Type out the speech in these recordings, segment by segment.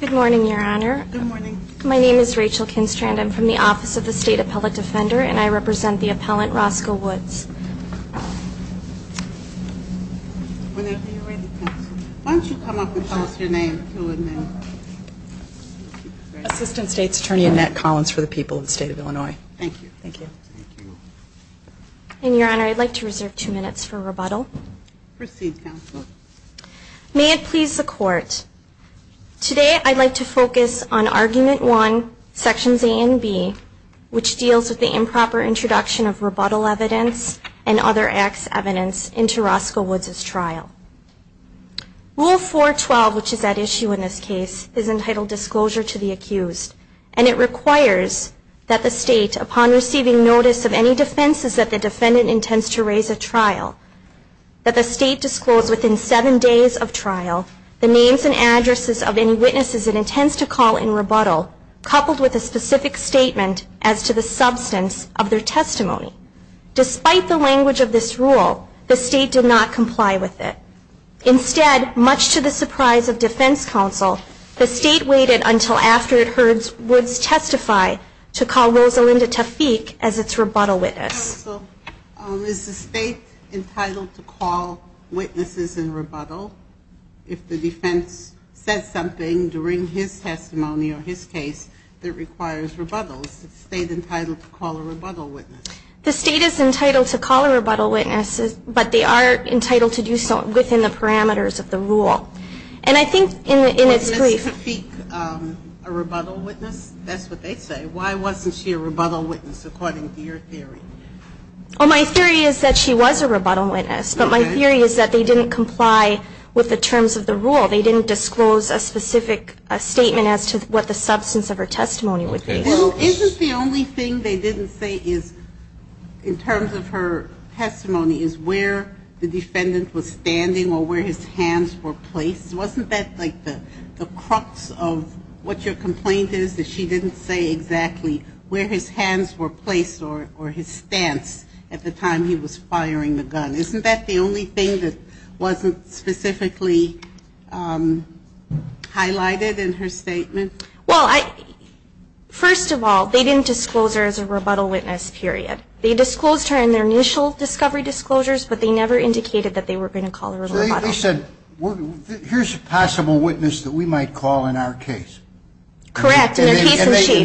Good morning, your honor. My name is Rachel Kinstrand. I'm from the Office of the State Appellate Defender and I represent the appellant Roscoe Woods. Today I'd like to focus on Argument 1, Sections A and B, which deals with the improper introduction of rebuttal evidence and other acts evidence into Roscoe Woods' trial. Rule 412, which is at issue in this case, is entitled Disclosure to the Accused and it requires that the state, upon receiving notice of any defenses that the defendant intends to raise at trial, that the state disclose within seven days of trial the names and addresses of any witnesses it intends to call in rebuttal, coupled with a specific statement as to the substance of their testimony. Despite the language of this rule, the state did not comply with it. Instead, much to the surprise of defense counsel, the state waited until after it heard Woods testify to call Rosalinda Tafik as its rebuttal witness. Counsel, is the state entitled to call witnesses in rebuttal if the defense says something during his testimony or his case that requires rebuttal? Is the state entitled to call a rebuttal witness? The state is entitled to call a rebuttal witness, but they are entitled to do so within the parameters of the rule. And I think in its brief... Why didn't Ms. Tafik a rebuttal witness? That's what they say. Why wasn't she a rebuttal witness, according to your theory? Well, my theory is that she was a rebuttal witness, but my theory is that they didn't comply with the terms of the rule. They didn't disclose a specific statement as to what the substance of her testimony would be. Isn't the only thing they didn't say is, in terms of her testimony, is where the defendant was standing or where his hands were placed? Wasn't that like the crux of what your complaint is, that she didn't say exactly where his hands were placed or his stance at the time he was firing the gun? Isn't that the only thing that wasn't specifically highlighted in her statement? Well, first of all, they didn't disclose her as a rebuttal witness, period. They disclosed her in their initial discovery disclosures, but they never indicated that they were going to call a rebuttal. So they said, here's a possible witness that we might call in our case. Correct. And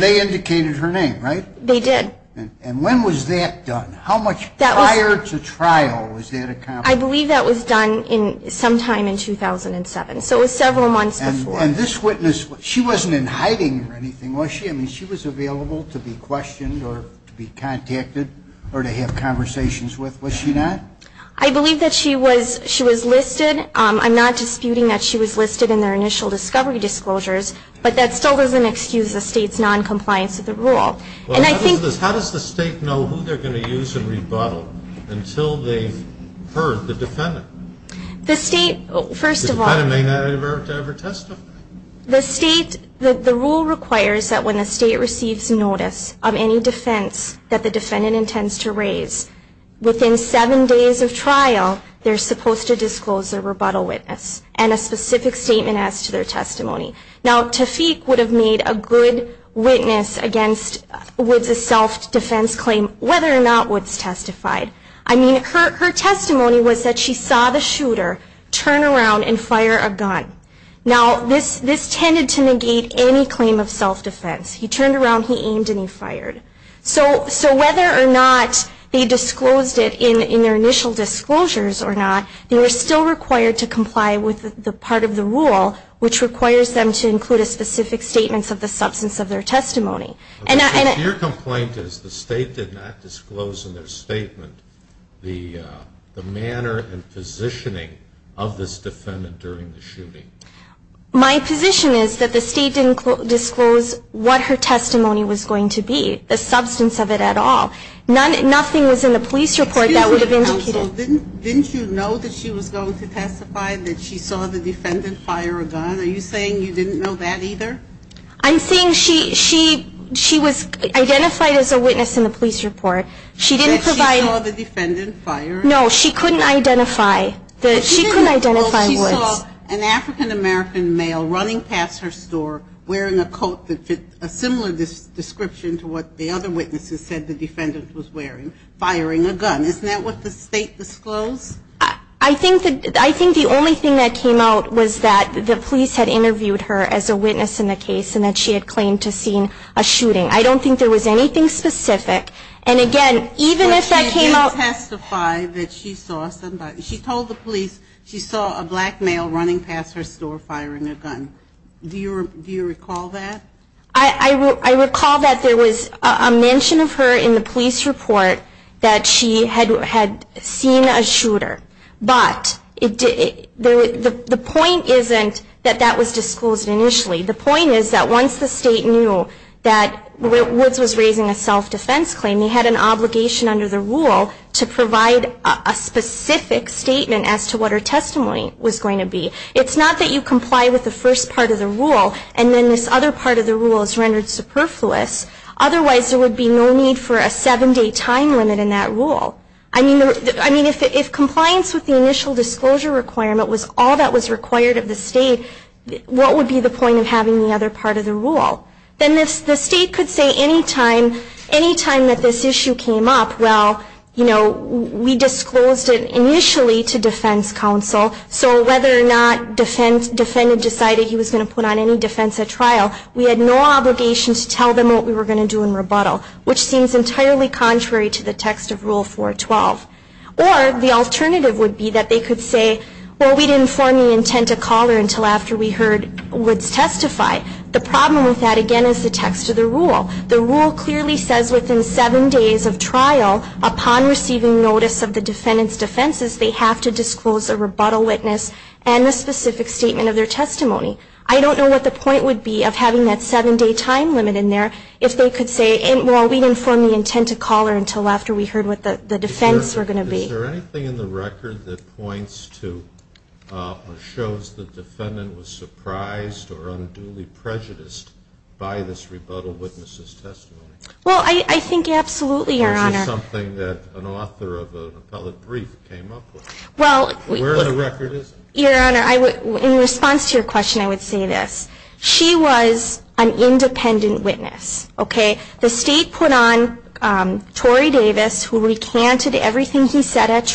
they indicated her name, right? They did. And when was that done? How much prior to trial was that accomplished? I believe that was done sometime in 2007. So it was several months before. And this witness, she wasn't in hiding or anything, was she? I mean, she was available to be questioned or to be contacted or to have conversations with, was she not? I believe that she was listed. I'm not disputing that she was listed in their initial discovery disclosures, but that still doesn't excuse the State's noncompliance with the rule. And I think How does the State know who they're going to use in rebuttal until they've heard the defendant? The State, first of all I didn't make that advert to ever testify. The State, the rule requires that when the State receives notice of any defense that the defendant intends to raise, within seven days of trial, they're supposed to disclose their rebuttal witness and a specific statement as to their testimony. Now, Tafik would have made a good witness against Woods' self-defense claim whether or not Woods testified. I mean, her testimony was that she saw the shooter turn around and fire a gun. Now, this tended to negate any claim of self-defense. He turned around, he aimed, and he fired. So whether or not they disclosed it in their initial disclosures or not, they were still required to comply with the part of the rule which requires them to include a specific statement of the substance of their testimony. Your complaint is the State did not disclose in their statement the manner and positioning of this defendant during the shooting. My position is that the State didn't disclose what her testimony was going to be, the substance of it at all. Nothing was in the police report that would have indicated... Didn't you know that she was going to testify, that she saw the defendant fire a gun? Are you saying you didn't know that either? I'm saying she was identified as a witness in the police report. That she saw the defendant fire a gun? No, she couldn't identify Woods. She saw an African-American male running past her store wearing a coat that fit a similar description to what the other witnesses said the defendant was wearing, firing a gun. Isn't that what the State disclosed? I think the only thing that came out was that the police had interviewed her as a witness in the case and that she had claimed to have seen a shooting. I don't think there was anything specific. And again, even if that came out... She didn't testify that she saw somebody. She told the police she saw a black male running past her store firing a gun. Do you recall that? I recall that there was a mention of her in the police report that she had seen a shooter. But the point isn't that that was disclosed initially. The point is that once the State knew that Woods was raising a self-defense claim, they had an obligation under the rule to provide a specific statement as to what her testimony was going to be. It's not that you comply with the first part of the rule and then this other part of the rule is rendered superfluous. Otherwise, there would be no need for a seven-day time limit in that rule. I mean, if compliance with the initial disclosure requirement was all that was required of the rule, then the State could say any time that this issue came up, well, you know, we disclosed it initially to defense counsel. So whether or not the defendant decided he was going to put on any defense at trial, we had no obligation to tell them what we were going to do in rebuttal, which seems entirely contrary to the text of Rule 412. Or the alternative would be that they could say, well, we didn't form the intent to call her until after we heard Woods testify. The problem with that, again, is the text of the rule. The rule clearly says within seven days of trial, upon receiving notice of the defendant's defenses, they have to disclose a rebuttal witness and a specific statement of their testimony. I don't know what the point would be of having that seven-day time limit in there if they could say, well, we didn't form the intent to call her until after we heard what the defense were going to be. Is there anything in the record that points to or shows the defendant was surprised or unduly prejudiced by this rebuttal witness's testimony? Well, I think absolutely, Your Honor. Or is it something that an author of an appellate brief came up with? Well, we Where in the record is it? Your Honor, in response to your question, I would say this. She was an independent witness, an owner of a religious store, and she was able to describe the way the shooting took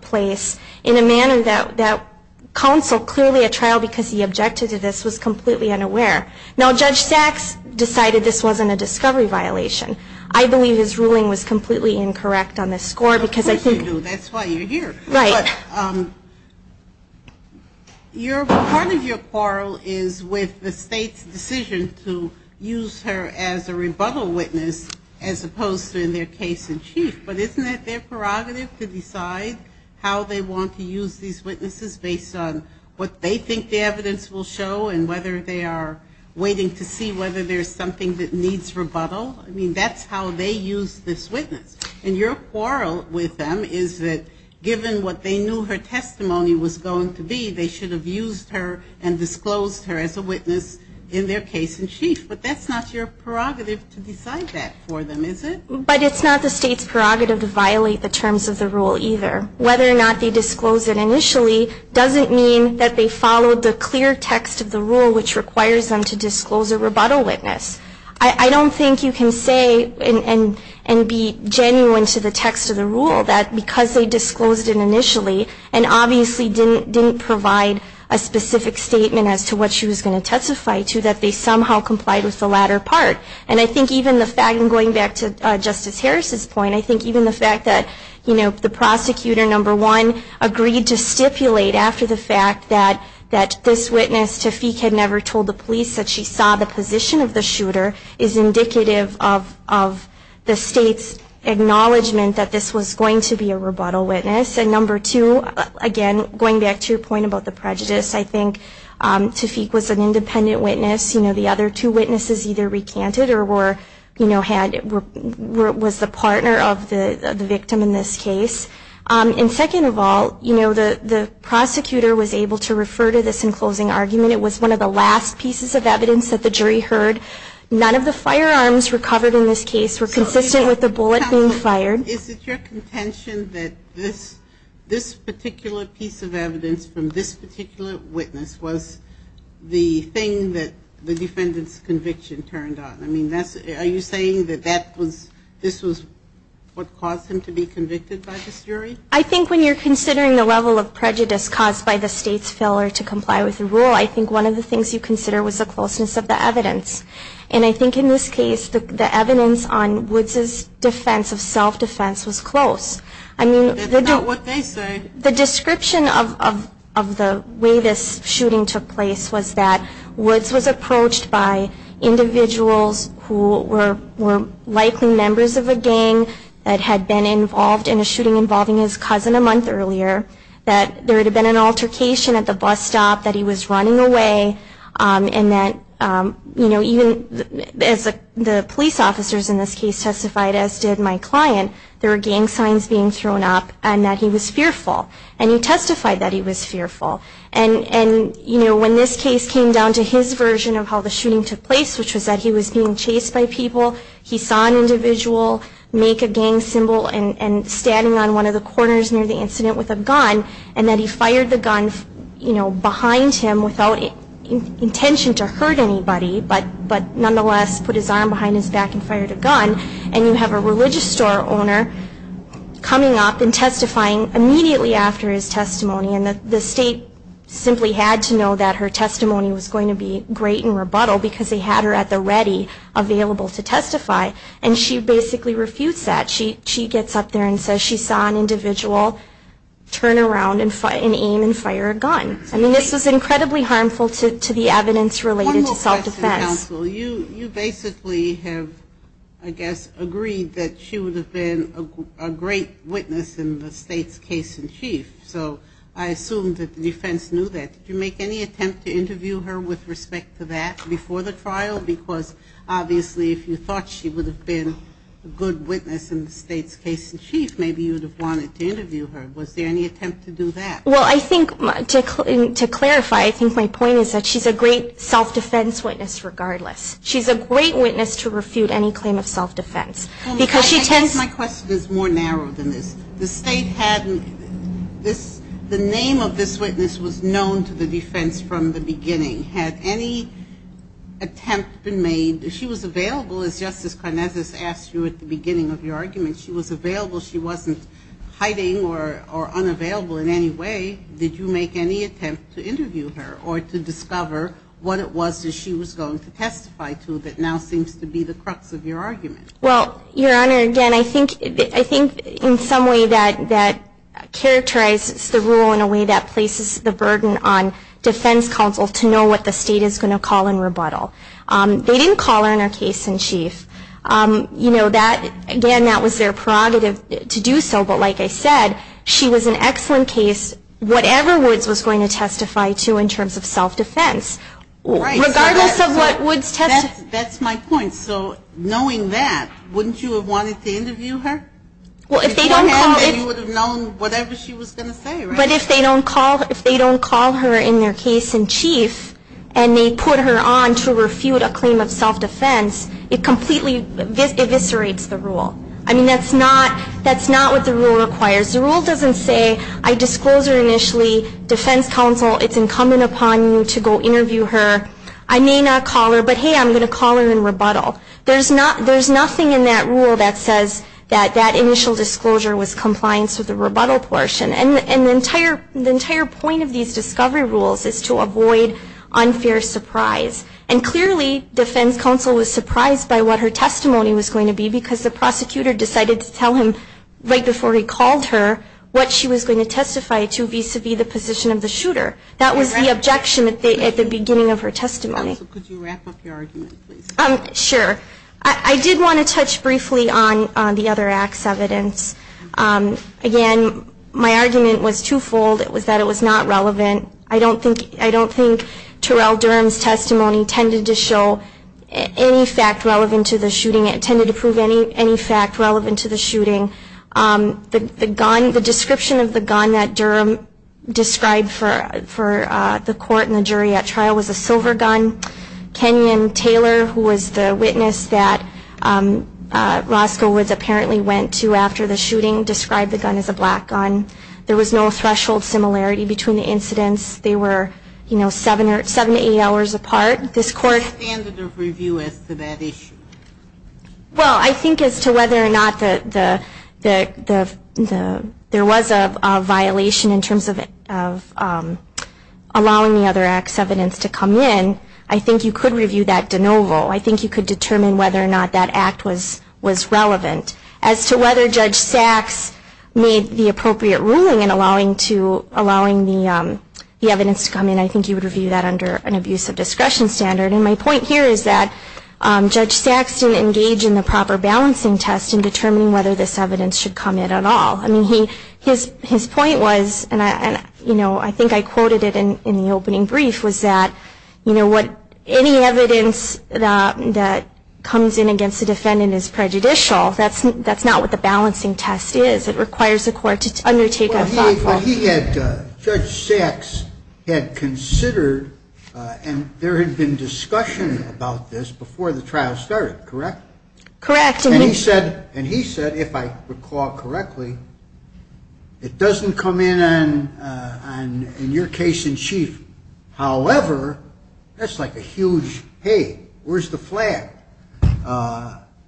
place in a manner that counsel, clearly at trial because he objected to this, was completely unaware. Now, Judge Sachs decided this wasn't a discovery violation. I believe his ruling was completely incorrect on this score because I think Of course you do. That's why you're here. Right. But part of your quarrel is with the State's decision to use her as a rebuttal witness as opposed to in their case-in-chief. But isn't that their prerogative to decide how they want to use these witnesses based on what they think the evidence will show and whether they are waiting to see whether there's something that needs rebuttal? I mean, that's how they use this witness. And your quarrel with them is that given what they knew her testimony was going to be, they should have used her and disclosed her as a witness in their case-in-chief. But that's not your prerogative to decide that for them, is it? But it's not the State's prerogative to violate the terms of the rule either. Whether or not they disclosed it initially doesn't mean that they followed the clear text of the rule which requires them to disclose a rebuttal witness. I don't think you can say and be genuine to the text of the rule that because they disclosed it initially and obviously didn't provide a specific statement as to what she was going to testify to, that they somehow complied with the latter part. And I think even the fact, and going back to Justice Harris's point, I think even the fact that the prosecutor, number one, agreed to stipulate after the fact that this witness, Tafik, had never told the police that she saw the position of the shooter is indicative of the State's acknowledgement that this was going to be a rebuttal witness. And number two, again, going back to your point about the prejudice, I think Tafik was an independent witness. The other two witnesses either recanted or was the partner of the victim in this case. And second of all, the prosecutor was able to refer to this in closing argument. It was one of the last pieces of evidence that the jury heard. None of the firearms recovered in this case were consistent with the bullet being fired. And I think the evidence from this particular witness was the thing that the defendant's conviction turned on. I mean, are you saying that this was what caused him to be convicted by this jury? I think when you're considering the level of prejudice caused by the State's failure to comply with the rule, I think one of the things you consider was the closeness of the evidence. And I think in this case, the evidence on Woods' defense of self-defense was close. I mean, the description of the way this shooting took place was that Woods was approached by individuals who were likely members of a gang that had been involved in a shooting involving his cousin a month earlier, that there had been an altercation at the bus stop, that he was running away, and that, you know, as the police officers in this case testified, as did my client, there were gang signs being thrown up, and that he was fearful. And he testified that he was fearful. And, you know, when this case came down to his version of how the shooting took place, which was that he was being chased by people, he saw an individual make a gang symbol and standing on one of the corners near the incident with a gun, and that he fired the gun, you know, behind him without intention to hurt anybody, but nonetheless put his arm behind his back and fired a gun. And you have a religious store owner coming up and testifying immediately after his testimony, and the state simply had to know that her testimony was going to be great in rebuttal, because they had her at the ready, available to testify. And she basically refused that. She gets up there and says she saw an individual turn around and aim and fire a gun. I mean, this was incredibly harmful to the evidence related to self-defense. MS. GOTTLIEB You basically have, I guess, agreed that she would have been a great witness in the state's case-in-chief. So I assume that the defense knew that. Did you make any attempt to interview her with respect to that before the trial? Because obviously, if you thought she would have been a good witness in the state's case-in-chief, maybe you would have wanted to interview her. Was there any attempt to do that? MS. GOTTLIEB Well, I think, to clarify, I think my point is that she's a great self-defense witness regardless. She's a great witness to refute any claim of self-defense. Because she tends- MS. GOTTLIEB I guess my question is more narrow than this. The state had this, the name of this witness was known to the defense from the beginning. Had any attempt been made, she was available, as Justice Karnazes asked you at the beginning of your testimony, did you make any attempt to interview her or to discover what it was that she was going to testify to that now seems to be the crux of your argument? MS. GOTTLIEB Well, Your Honor, again, I think in some way that characterizes the rule in a way that places the burden on defense counsel to know what the state is going to call in rebuttal. They didn't call her in her case-in-chief. You know, again, that was their prerogative to do so. But like I said, she was an excellent case, whatever Woods was going to testify to in terms of self-defense. Regardless of what Woods testified- MS. GOTTLIEB That's my point. So knowing that, wouldn't you have wanted to interview her? If you had, then you would have known whatever she was going to say, right? MS. GOTTLIEB But if they don't call her in their case-in-chief and they put her on to refute a claim of self-defense, it completely eviscerates the rule. That's not what the rule requires. The rule doesn't say, I disclose her initially, defense counsel, it's incumbent upon you to go interview her. I may not call her, but hey, I'm going to call her in rebuttal. There's nothing in that rule that says that that initial disclosure was compliance with the rebuttal portion. And the entire point of these discovery rules is to avoid unfair surprise. And clearly, defense counsel was surprised by what her testimony was going to be, because the prosecutor decided to tell him right before he called her what she was going to testify to vis-à-vis the position of the shooter. That was the objection at the beginning of her testimony. MS. GOTTLIEB Could you wrap up your argument, please? MS. GOTTLIEB Sure. I did want to touch briefly on the other act's evidence. Again, my argument was twofold. It was that it was not relevant. I don't think Terrell Durham's testimony tended to show any fact relevant to the shooting. It tended to prove any fact relevant to the shooting. The gun, the description of the gun that Durham described for the court and the jury at trial was a silver gun. Kenyon Taylor, who was the witness that Roscoe Woods apparently went to after the shooting, described the gun as a black gun. There was no threshold similarity between the incidents. They were, you know, seven to eight hours apart. MS. GOTTLIEB What is the standard of review as to that issue? MS. GOTTLIEB Well, I think as to whether or not there was a violation in terms of allowing the other act's evidence to come in, I think you could review that de novo. I think you could determine whether or not that act was relevant. As to whether Judge Sachs made the appropriate ruling in allowing the evidence to come in, I think you would review that under an abuse of discretion standard. And my point here is that Judge Sachs didn't engage in the proper balancing test in determining whether this evidence should come in at all. I mean, his point was, and I think I quoted it in the opening brief, was that any evidence that comes in against the defendant is prejudicial. That's not what the balancing test is. It requires the court to undertake a thoughtful... JUDGE LEBEN Well, he had, Judge Sachs had considered, and there had been discussion about this before the trial started, correct? MS. GOTTLIEB Correct. JUDGE LEBEN And he said, if I recall correctly, it doesn't come in on your case in chief. However, that's like a huge, hey, where's the flag?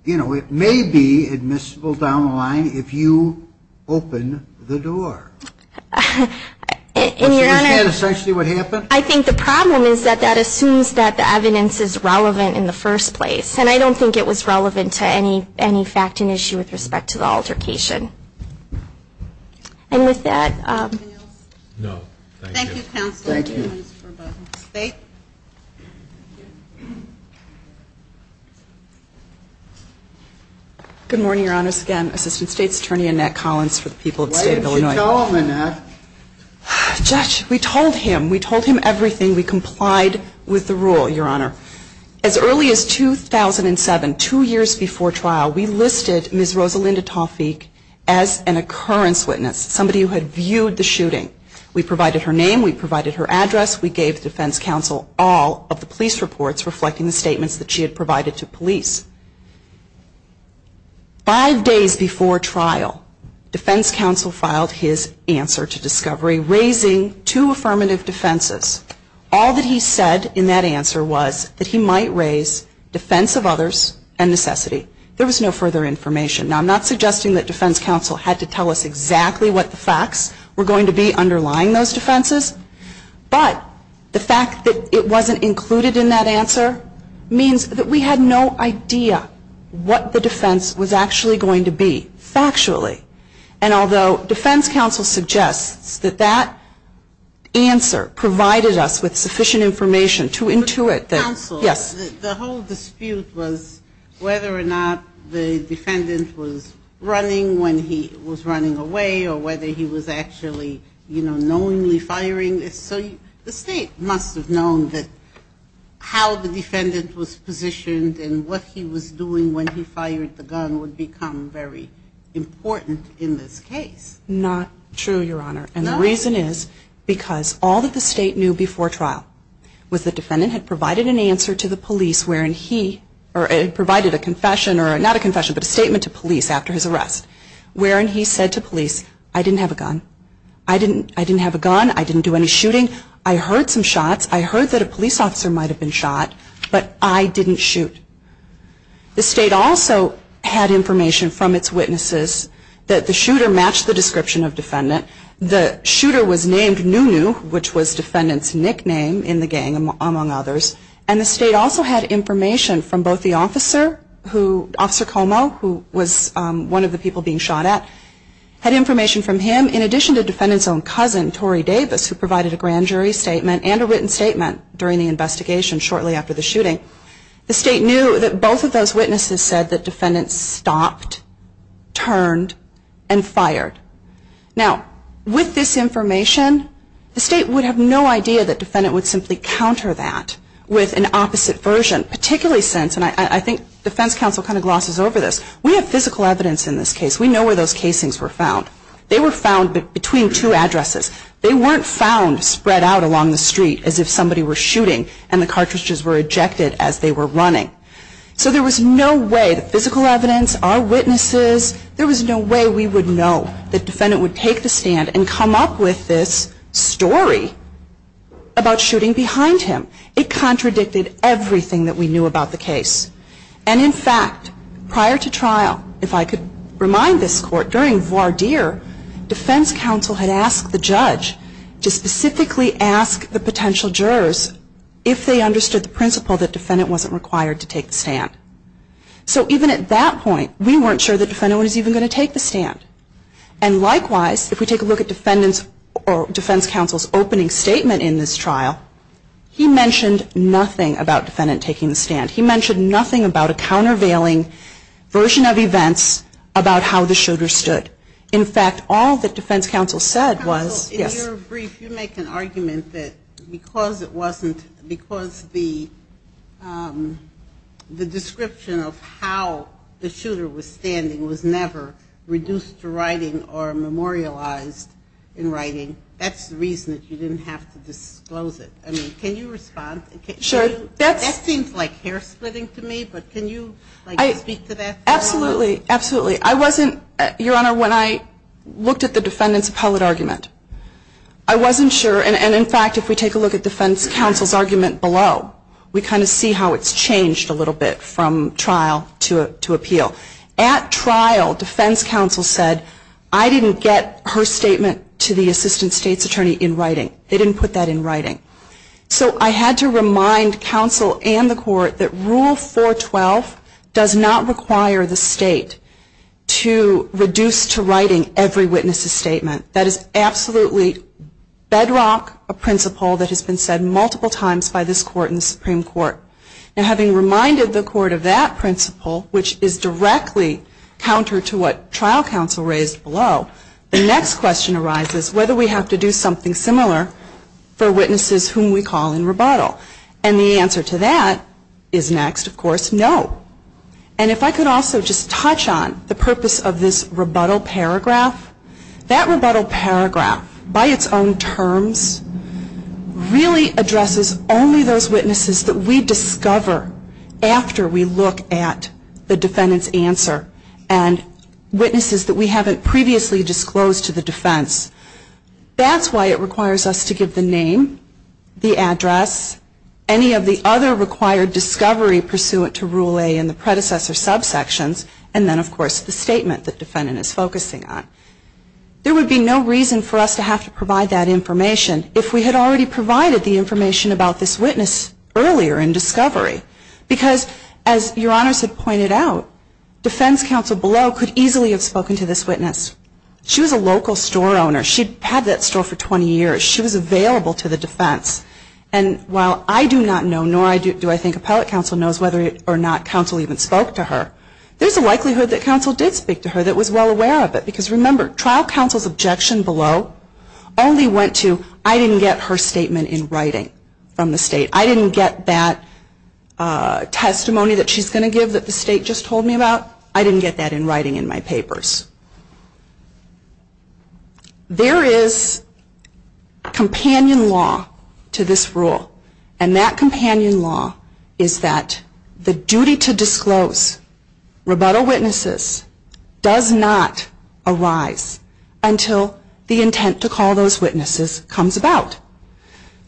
You know, it may be admissible down the line if you open the door. JUDGE LEBEN That's essentially what happened? MS. GOTTLIEB I think the problem is that that assumes that the evidence is relevant in the first place. And I don't think it was relevant to any fact and issue with respect to the altercation. And with that... MS. GOTTLIEB Good morning, Your Honor. It's again Assistant State's Attorney Annette Collins for the people of the State of Illinois. JUDGE SCHROEDER Why didn't you tell him, Annette? MS. GOTTLIEB Judge, we told him. We told him everything. We complied with the rule, Your Honor. As early as 2007, two years before trial, we listed Ms. Rosalinda Tawfiq as an occurrence witness, somebody who had viewed the shooting. We provided her name. We provided her address. We gave the defense counsel all of the police reports reflecting the statements that she had provided to us. Five days before trial, defense counsel filed his answer to discovery, raising two affirmative defenses. All that he said in that answer was that he might raise defense of others and necessity. There was no further information. Now, I'm not suggesting that defense counsel had to tell us exactly what the facts were going to be underlying those defenses. But the fact that it wasn't included in that answer means that we had no other choice. We had no idea what the defense was actually going to be, factually. And although defense counsel suggests that that answer provided us with sufficient information to intuit that, yes. MS. GOTTLIEB Counsel, the whole dispute was whether or not the defendant was running when he was running away or whether he was actually, you know, knowingly firing. So the state must have known that how the defendant was positioned and what he was doing when he fired the gun would become very important in this case. MS. TAYLOR Not true, Your Honor. And the reason is because all that the state knew before trial was that the defendant had provided an answer to the police wherein he, or provided a confession, or not a confession, but a statement to police after his arrest, wherein he said to police, I didn't have a gun. I didn't have a gun. I didn't do any shooting. I heard some shots. I heard that a police officer might have been shot, but I didn't shoot. The state also had information from its witnesses that the shooter matched the description of defendant. The shooter was named Nunu, which was defendant's nickname in the gang, among others. And the state also had information from both the officer, Officer Como, who was one of the people being shot at, had information from him in addition to defendant's own cousin, Tory Davis, who provided a grand jury statement and a written statement during the investigation shortly after the shooting. The state knew that both of those witnesses said that defendant stopped, turned, and fired. Now, with this information, the state would have no idea that defendant would simply counter that with an opposite version, particularly since, and I think defense counsel kind of glosses over this, we have physical evidence in this case. We know where those casings were found. They were found between two addresses. They weren't found spread out along the street as if somebody were shooting and the cartridges were ejected as they were running. So there was no way that physical evidence, our witnesses, there was no way we would know that defendant would take the stand and come up with this story about shooting behind him. It contradicted everything that we knew about the case. And in fact, prior to trial, if I could remind this Court, during voir dire, defense counsel had asked the judge to specifically ask the potential jurors if they understood the principle that defendant wasn't required to take the stand. So even at that point, we weren't sure that defendant was even going to take the stand. And likewise, if we take a look at defendant's, or defense counsel's opening statement in this trial, he mentioned nothing about defendant taking the stand. He mentioned nothing about a countervailing version of events about how the shooter stood. In fact, all that defense counsel said was, yes. In your brief, you make an argument that because it wasn't, because the description of how the shooter was standing was never reduced to writing or memorialized in writing, that's the reason that you didn't have to disclose it. I mean, can you respond? That seems like hair splitting to me, but can you speak to that? Absolutely. Absolutely. I wasn't, Your Honor, when I looked at the defendant's appellate argument, I wasn't sure. And in fact, if we take a look at defense counsel's argument below, we kind of see how it's changed a little bit from trial to appeal. At trial, defense counsel said, I didn't get her statement to the assistant state's attorney in writing. They didn't put that in writing. So I had to remind counsel and the court that Rule 412 does not require the state to reduce to writing every witness's statement. That is absolutely bedrock, a principle that has been said multiple times by this court and the Supreme Court. Now having reminded the court of that principle, which is directly counter to what trial counsel raised below, the next question arises whether we have to do something similar for witnesses whom we call in rebuttal. And the answer to that is next, of course, no. And if I could also just touch on the purpose of this rebuttal paragraph, that rebuttal paragraph, by its own terms, really addresses only those witnesses that we discover after we look at the defendant's answer and witnesses that we haven't previously disclosed to the defense. That's why it requires us to give the name, the address, any of the other required discovery pursuant to Rule A in the predecessor subsections, and then, of course, the statement that defendant is focusing on. There would be no reason for us to have to provide that information if we had already provided the information about this witness earlier in discovery. Because, as Your Honors had pointed out, if we had already provided the information, defense counsel below could easily have spoken to this witness. She was a local store owner. She had that store for 20 years. She was available to the defense. And while I do not know, nor do I think appellate counsel knows whether or not counsel even spoke to her, there's a likelihood that counsel did speak to her that was well aware of it. Because, remember, trial counsel's objection below only went to, I didn't get her statement in writing from the state. I didn't get that testimony that she's going to give that the defendant is focusing on. I didn't get that in writing in my papers. There is companion law to this rule. And that companion law is that the duty to disclose rebuttal witnesses does not arise until the intent to call those witnesses comes about.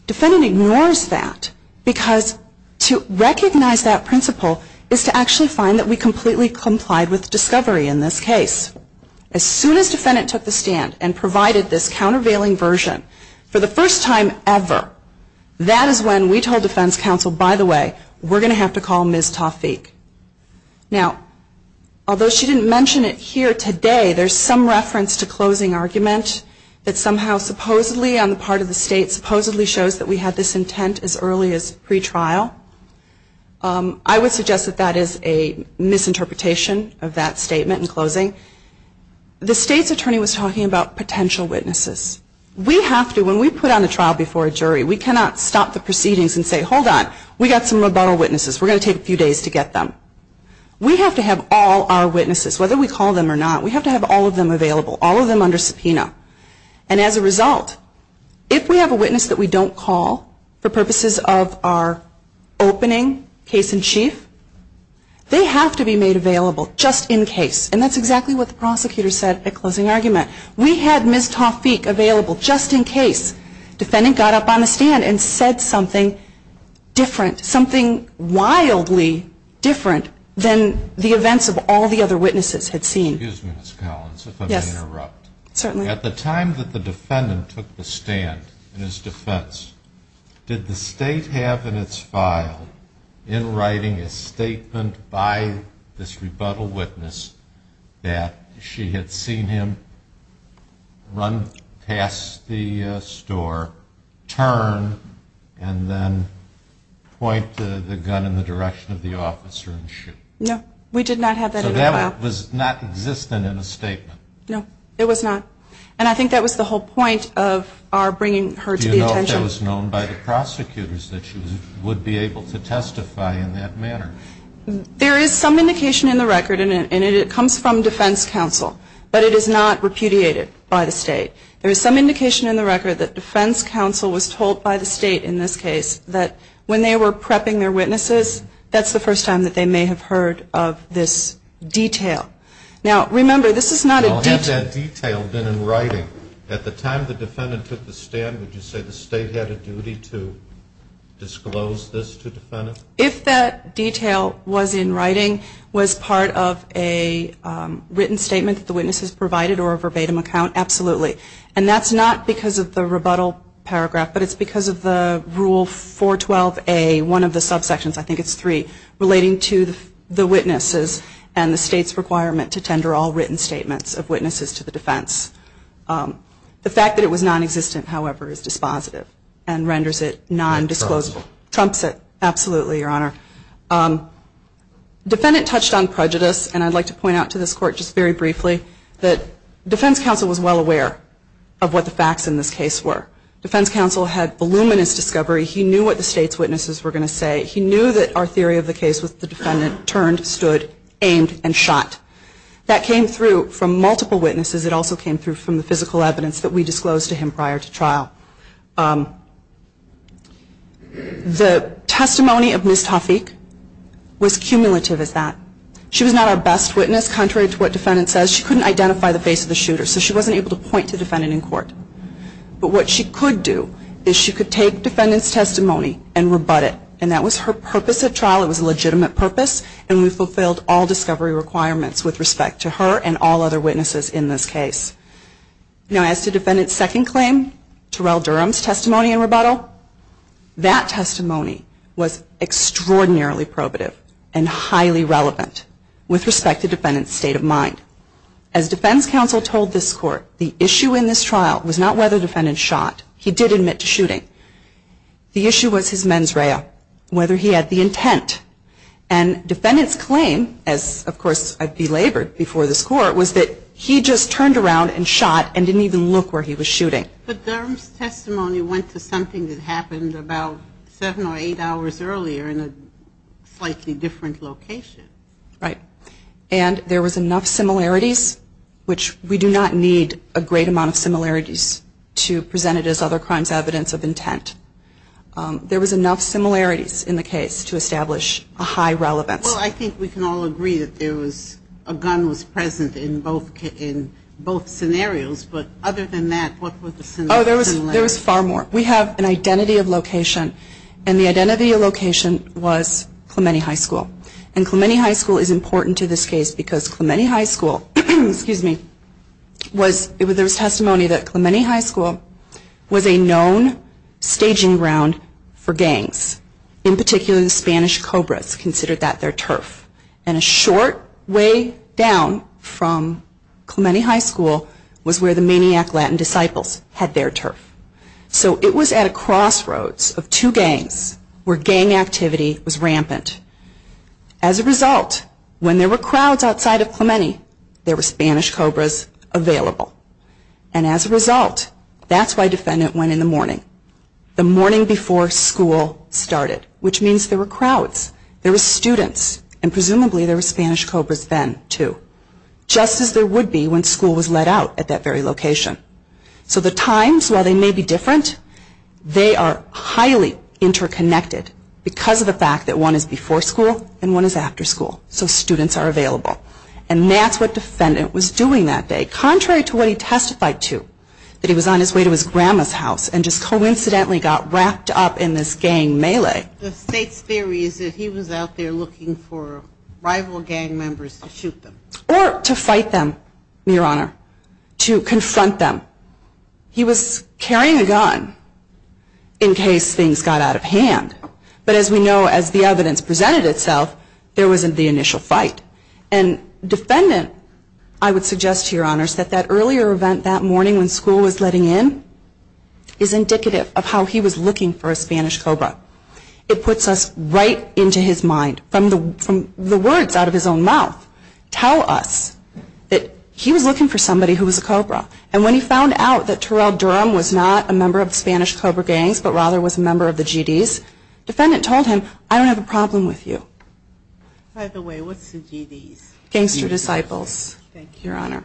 Defendant ignores that because to recognize that principle is to actually find that we completely complied with discovery in this case. As soon as defendant took the stand and provided this countervailing version for the first time ever, that is when we told defense counsel, by the way, we're going to have to call Ms. Tawfiq. Now, although she didn't mention it here today, there's some reference to closing argument that somehow supposedly on the part of the state supposedly shows that we had this intent as early as pretrial. I would suggest that that is a misinterpretation of that statement in closing. The state's attorney was talking about potential witnesses. We have to, when we put on a trial before a jury, we cannot stop the proceedings and say, hold on, we've got some rebuttal witnesses. We're going to take a few days to get them. We have to have all our witnesses, whether we call them or not, we have to have all of them available, all of them under subpoena. And as a result, if we have a witness that we don't call, for purposes of our opening case in chief, they have to be made available just in case. And that's exactly what the prosecutor said at closing argument. We had Ms. Tawfiq available just in case defendant got up on the stand and said something different, something wildly different than the events of all the other witnesses had seen. Excuse me, Ms. Collins, if I may interrupt. At the time that the defendant took the stand in his defense, did the state have in its file in writing a statement by this rebuttal witness that she had seen him run past the store, turn, and then point the gun in the face of the man? No, it was not. And I think that was the whole point of our bringing her to the attention. Do you know if that was known by the prosecutors that she would be able to testify in that manner? There is some indication in the record, and it comes from defense counsel, but it is not repudiated by the state. There is some indication in the record that defense counsel was told by the state in this case that when they were prepping their witnesses, that's the first time that they may have heard of this detail. Now, we remember, this is not a detail. Well, had that detail been in writing at the time the defendant took the stand, would you say the state had a duty to disclose this to the defendant? If that detail was in writing, was part of a written statement that the witnesses provided or a verbatim account, absolutely. And that's not because of the rebuttal paragraph, but it's because of the Rule 412A, one of the subsections, I think it's three, relating to the witnesses and the state's requirement to tender all written statements of witnesses to the defense. The fact that it was nonexistent, however, is dispositive and renders it nondisclosable. Trumps it. Absolutely, Your Honor. Defendant touched on prejudice, and I'd like to point out to this Court just very briefly that defense counsel was well aware of what the facts in this case were. Defense counsel had voluminous discovery. He knew what the state's witnesses were going to say. He knew that our theory of the case was the defendant turned, stood, aimed, and shot. That came through from multiple witnesses. It also came through from the physical evidence that we disclosed to him prior to trial. The testimony of Ms. Tawfiq was cumulative as that. She was not our best witness. Contrary to what defendant says, she couldn't identify the face of the shooter, so she wasn't able to point to the defendant in court. But what she could do is she could take defendant's testimony and rebut it, and that was her purpose at trial. It was a legitimate purpose, and we fulfilled all discovery requirements with respect to her and all other witnesses in this case. Now, as to defendant's second claim, Terrell Durham's testimony in rebuttal, that testimony was extraordinarily probative and highly relevant with respect to defendant's state of mind. As defense counsel told this Court, the issue in this case was whether the defendant had the intent to shoot Ms. Tawfiq, whether he had the intent. And defendant's claim, as, of course, I'd belabored before this Court, was that he just turned around and shot and didn't even look where he was shooting. But Durham's testimony went to something that happened about seven or eight hours earlier in a slightly different location. Right. And there was enough similarities, which we do not need a great amount of similarities to present it as other crimes evidence of intent. There was enough similarities in the case to establish a high relevance. Well, I think we can all agree that there was, a gun was present in both scenarios, but other than that, what were the similarities? Oh, there was far more. We have an identity of location, and the identity of location was Clementi High School. And there was testimony that Clementi High School was a known staging ground for gangs. In particular, the Spanish Cobras considered that their turf. And a short way down from Clementi High School was where the Maniac Latin Disciples had their turf. So it was at a crossroads of two gangs where gang activity was rampant. As a result, when there were crowds outside of Clementi, there were Spanish Cobras, there were Spanish Cobras available. And as a result, that's why defendant went in the morning. The morning before school started, which means there were crowds. There were students, and presumably there were Spanish Cobras then, too. Just as there would be when school was let out at that very location. So the times, while they may be different, they are highly interconnected because of the fact that one is before school and one is after school. So students are available. And that's what defendant was doing that day. Contrary to what he testified to, that he was on his way to his grandma's house and just coincidentally got wrapped up in this gang melee. The state's theory is that he was out there looking for rival gang members to shoot them. Or to fight them, Your Honor. To confront them. He was carrying a gun in case things got out of hand. But as we know, as the evidence presented itself, there wasn't the initial fight. And defendant, I would suggest to Your Honors, that that earlier event that morning when school was letting in is indicative of how he was looking for a Spanish Cobra. It puts us right into his mind from the words out of his own mouth. Tell us that he was looking for somebody who was a Cobra. And when he found out that Terrell Durham was not a member of the Spanish Cobra gangs, but rather was a member of the GDs, defendant told him, I don't have a problem with you. By the way, what's the GDs? Gangster Disciples. Thank you, Your Honor.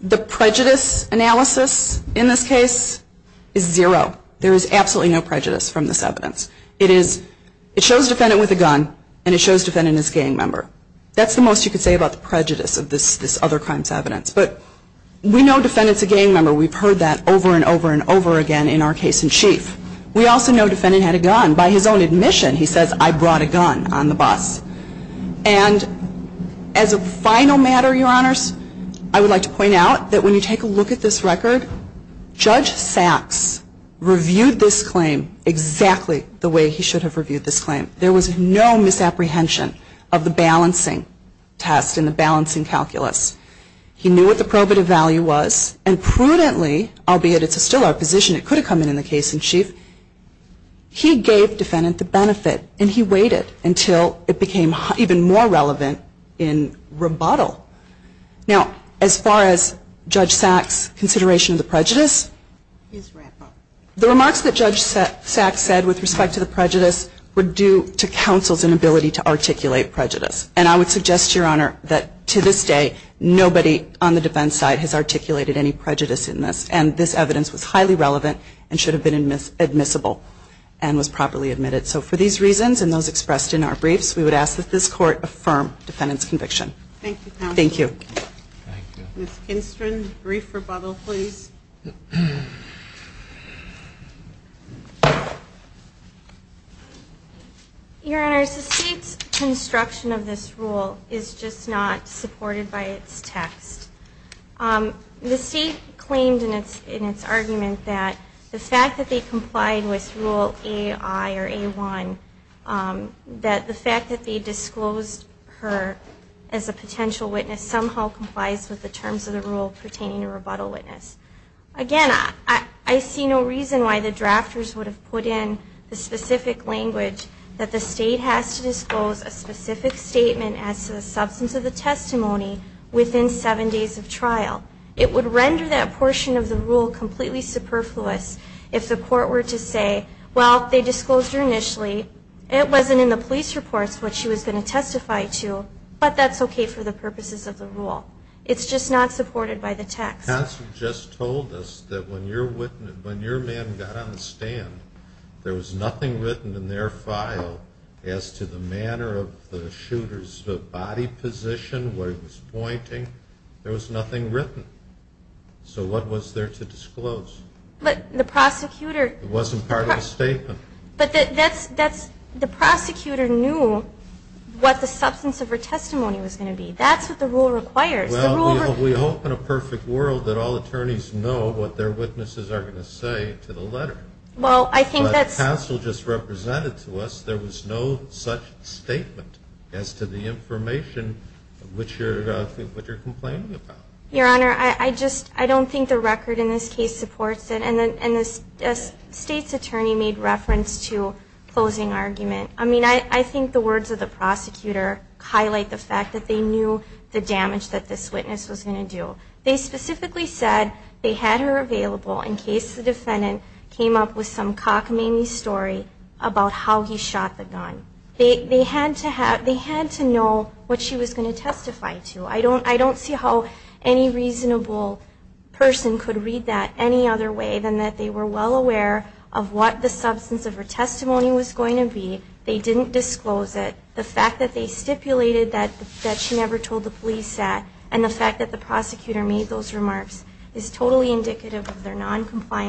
The prejudice analysis in this case is zero. There is absolutely no prejudice from this evidence. It is, it shows defendant with a gun and it shows defendant as gang member. That's the most you could say about the prejudice of this other crime's evidence. But we know defendant's a gang member. We've heard that over and over and over again in our case in chief. We also know defendant had a gun. By his own admission, he says, I brought a gun on the bus. And as a final matter, Your Honors, I would like to point out that when you take a look at this record, Judge Sacks reviewed this claim exactly the way he should have reviewed this claim. There was no misapprehension of the balancing test and the balancing calculus. He knew what the probative value was and prudently, albeit it's still our position, it could have come in the case in chief, he gave defendant the benefit and he waited until it became even more relevant in rebuttal. Now, as far as Judge Sacks' consideration of the prejudice, the remarks that Judge Sacks said with respect to the prejudice were due to counsel's inability to articulate prejudice. And I would suggest, Your Honor, that to this day, nobody on the defense side has articulated any prejudice in this. And this evidence was highly relevant and should have been admissible and was properly admitted. So for these reasons and those expressed in our briefs, we would ask that this Court affirm defendant's conviction. Thank you, counsel. Thank you. Ms. Kinstrin, brief rebuttal, please. Your Honors, the State's construction of this rule is just not supported by its text. The State claimed in its argument that the fact that they complied with Rule AI or A1, that the fact that they disclosed her as a potential witness somehow complies with the terms of the rule pertaining to rebuttal witness. Again, I see no reason why the drafters would have put in the specific language that would have been necessary. The State has to disclose a specific statement as to the substance of the testimony within seven days of trial. It would render that portion of the rule completely superfluous if the Court were to say, well, they disclosed her initially. It wasn't in the police reports what she was going to testify to, but that's okay for the purposes of the rule. It's just not supported by the text. Counsel just told us that when your man got on the stand, there was nothing written in their file. There was nothing in the file as to the manner of the shooter's body position, what he was pointing. There was nothing written. So what was there to disclose? It wasn't part of the statement. But the prosecutor knew what the substance of her testimony was going to be. That's what the rule requires. Well, we hope in a perfect world that all attorneys know what their witnesses are going to say to the letter. But the counsel just presented to us, there was no such statement as to the information which you're complaining about. Your Honor, I just, I don't think the record in this case supports it. And the State's attorney made reference to closing argument. I mean, I think the words of the prosecutor highlight the fact that they knew the damage that this witness was going to do. They specifically said they had her available in case the defendant came up with some cockamamie story of a gunshot wound. They had to know what she was going to testify to. I don't see how any reasonable person could read that any other way than that they were well aware of what the substance of her testimony was going to be. They didn't disclose it. The fact that they stipulated that she never told the police that, and the fact that the prosecutor made those remarks, is totally indicative of their willingness to go to court and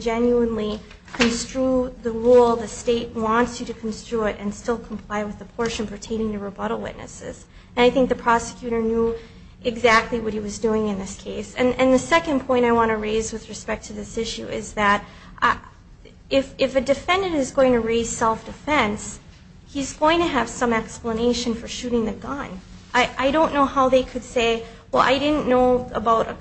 not only construe the rule, the State wants you to construe it and still comply with the portion pertaining to rebuttal witnesses. And I think the prosecutor knew exactly what he was doing in this case. And the second point I want to raise with respect to this issue is that if a defendant is going to raise self-defense, he's going to have some explanation for shooting the gun. I don't know how they could say, well, I didn't know about a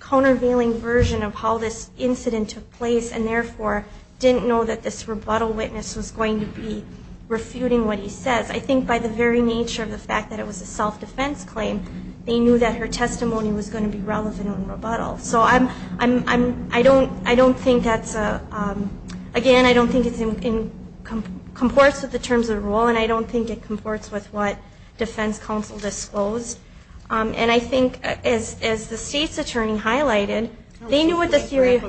countervailing version of how to do that, and I therefore didn't know that this rebuttal witness was going to be refuting what he says. I think by the very nature of the fact that it was a self-defense claim, they knew that her testimony was going to be relevant in rebuttal. So I'm, I'm, I don't, I don't think that's a, again, I don't think it's in, comports with the terms of the rule, and I don't think it comports with what defense counsel disclosed. And I think as, as the State's attorney highlighted, they knew what the theory of,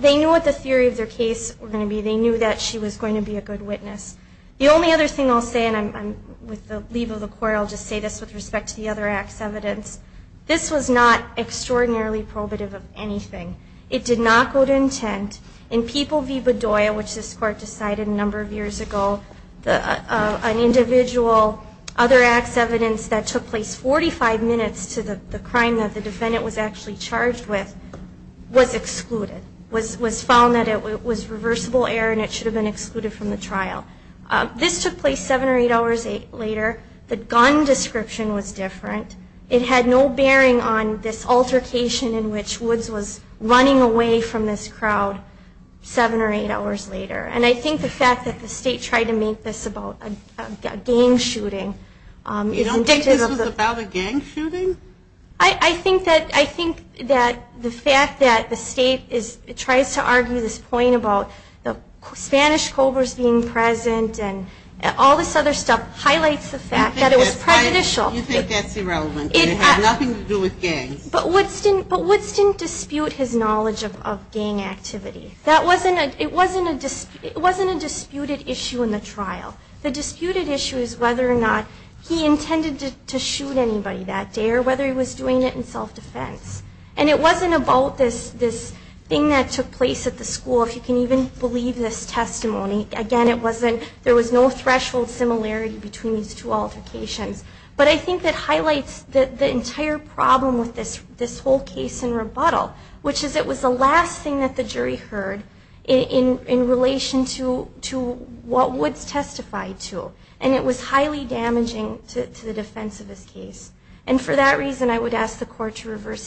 they knew what the theory of their case were going to be. They knew that she was going to be a good witness. The only other thing I'll say, and I'm, I'm, with the leave of the court, I'll just say this with respect to the other acts evidence. This was not extraordinarily probative of anything. It did not go to intent. In People v. Bedoya, which this court decided a number of years ago, the, an individual, other acts evidence that took place 45 minutes to the, the crime that the defendant was actually charged with, was excluded, was, was found that it was reversible error and it should have been excluded from the trial. This took place seven or eight hours later. The gun description was different. It had no bearing on this altercation in which Woods was running away from this crowd seven or eight hours later. And I think the fact that the State tried to make this about a, a gang shooting is indicative of the... The fact that the State is, tries to argue this point about the Spanish Cobras being present and all this other stuff highlights the fact that it was prejudicial. You think that's irrelevant. It had nothing to do with gangs. But Woods didn't, but Woods didn't dispute his knowledge of, of gang activity. That wasn't a, it wasn't a, it wasn't a disputed issue in the trial. The disputed issue is whether or not he intended to, to shoot anybody that day or whether he was doing it in the school. The thing that took place at the school, if you can even believe this testimony, again, it wasn't, there was no threshold similarity between these two altercations. But I think that highlights the, the entire problem with this, this whole case in rebuttal, which is it was the last thing that the jury heard in, in, in relation to, to what Woods testified to. And it was highly damaging to, to the defense of his case. And for that reason, I would ask the court to reverse his trial.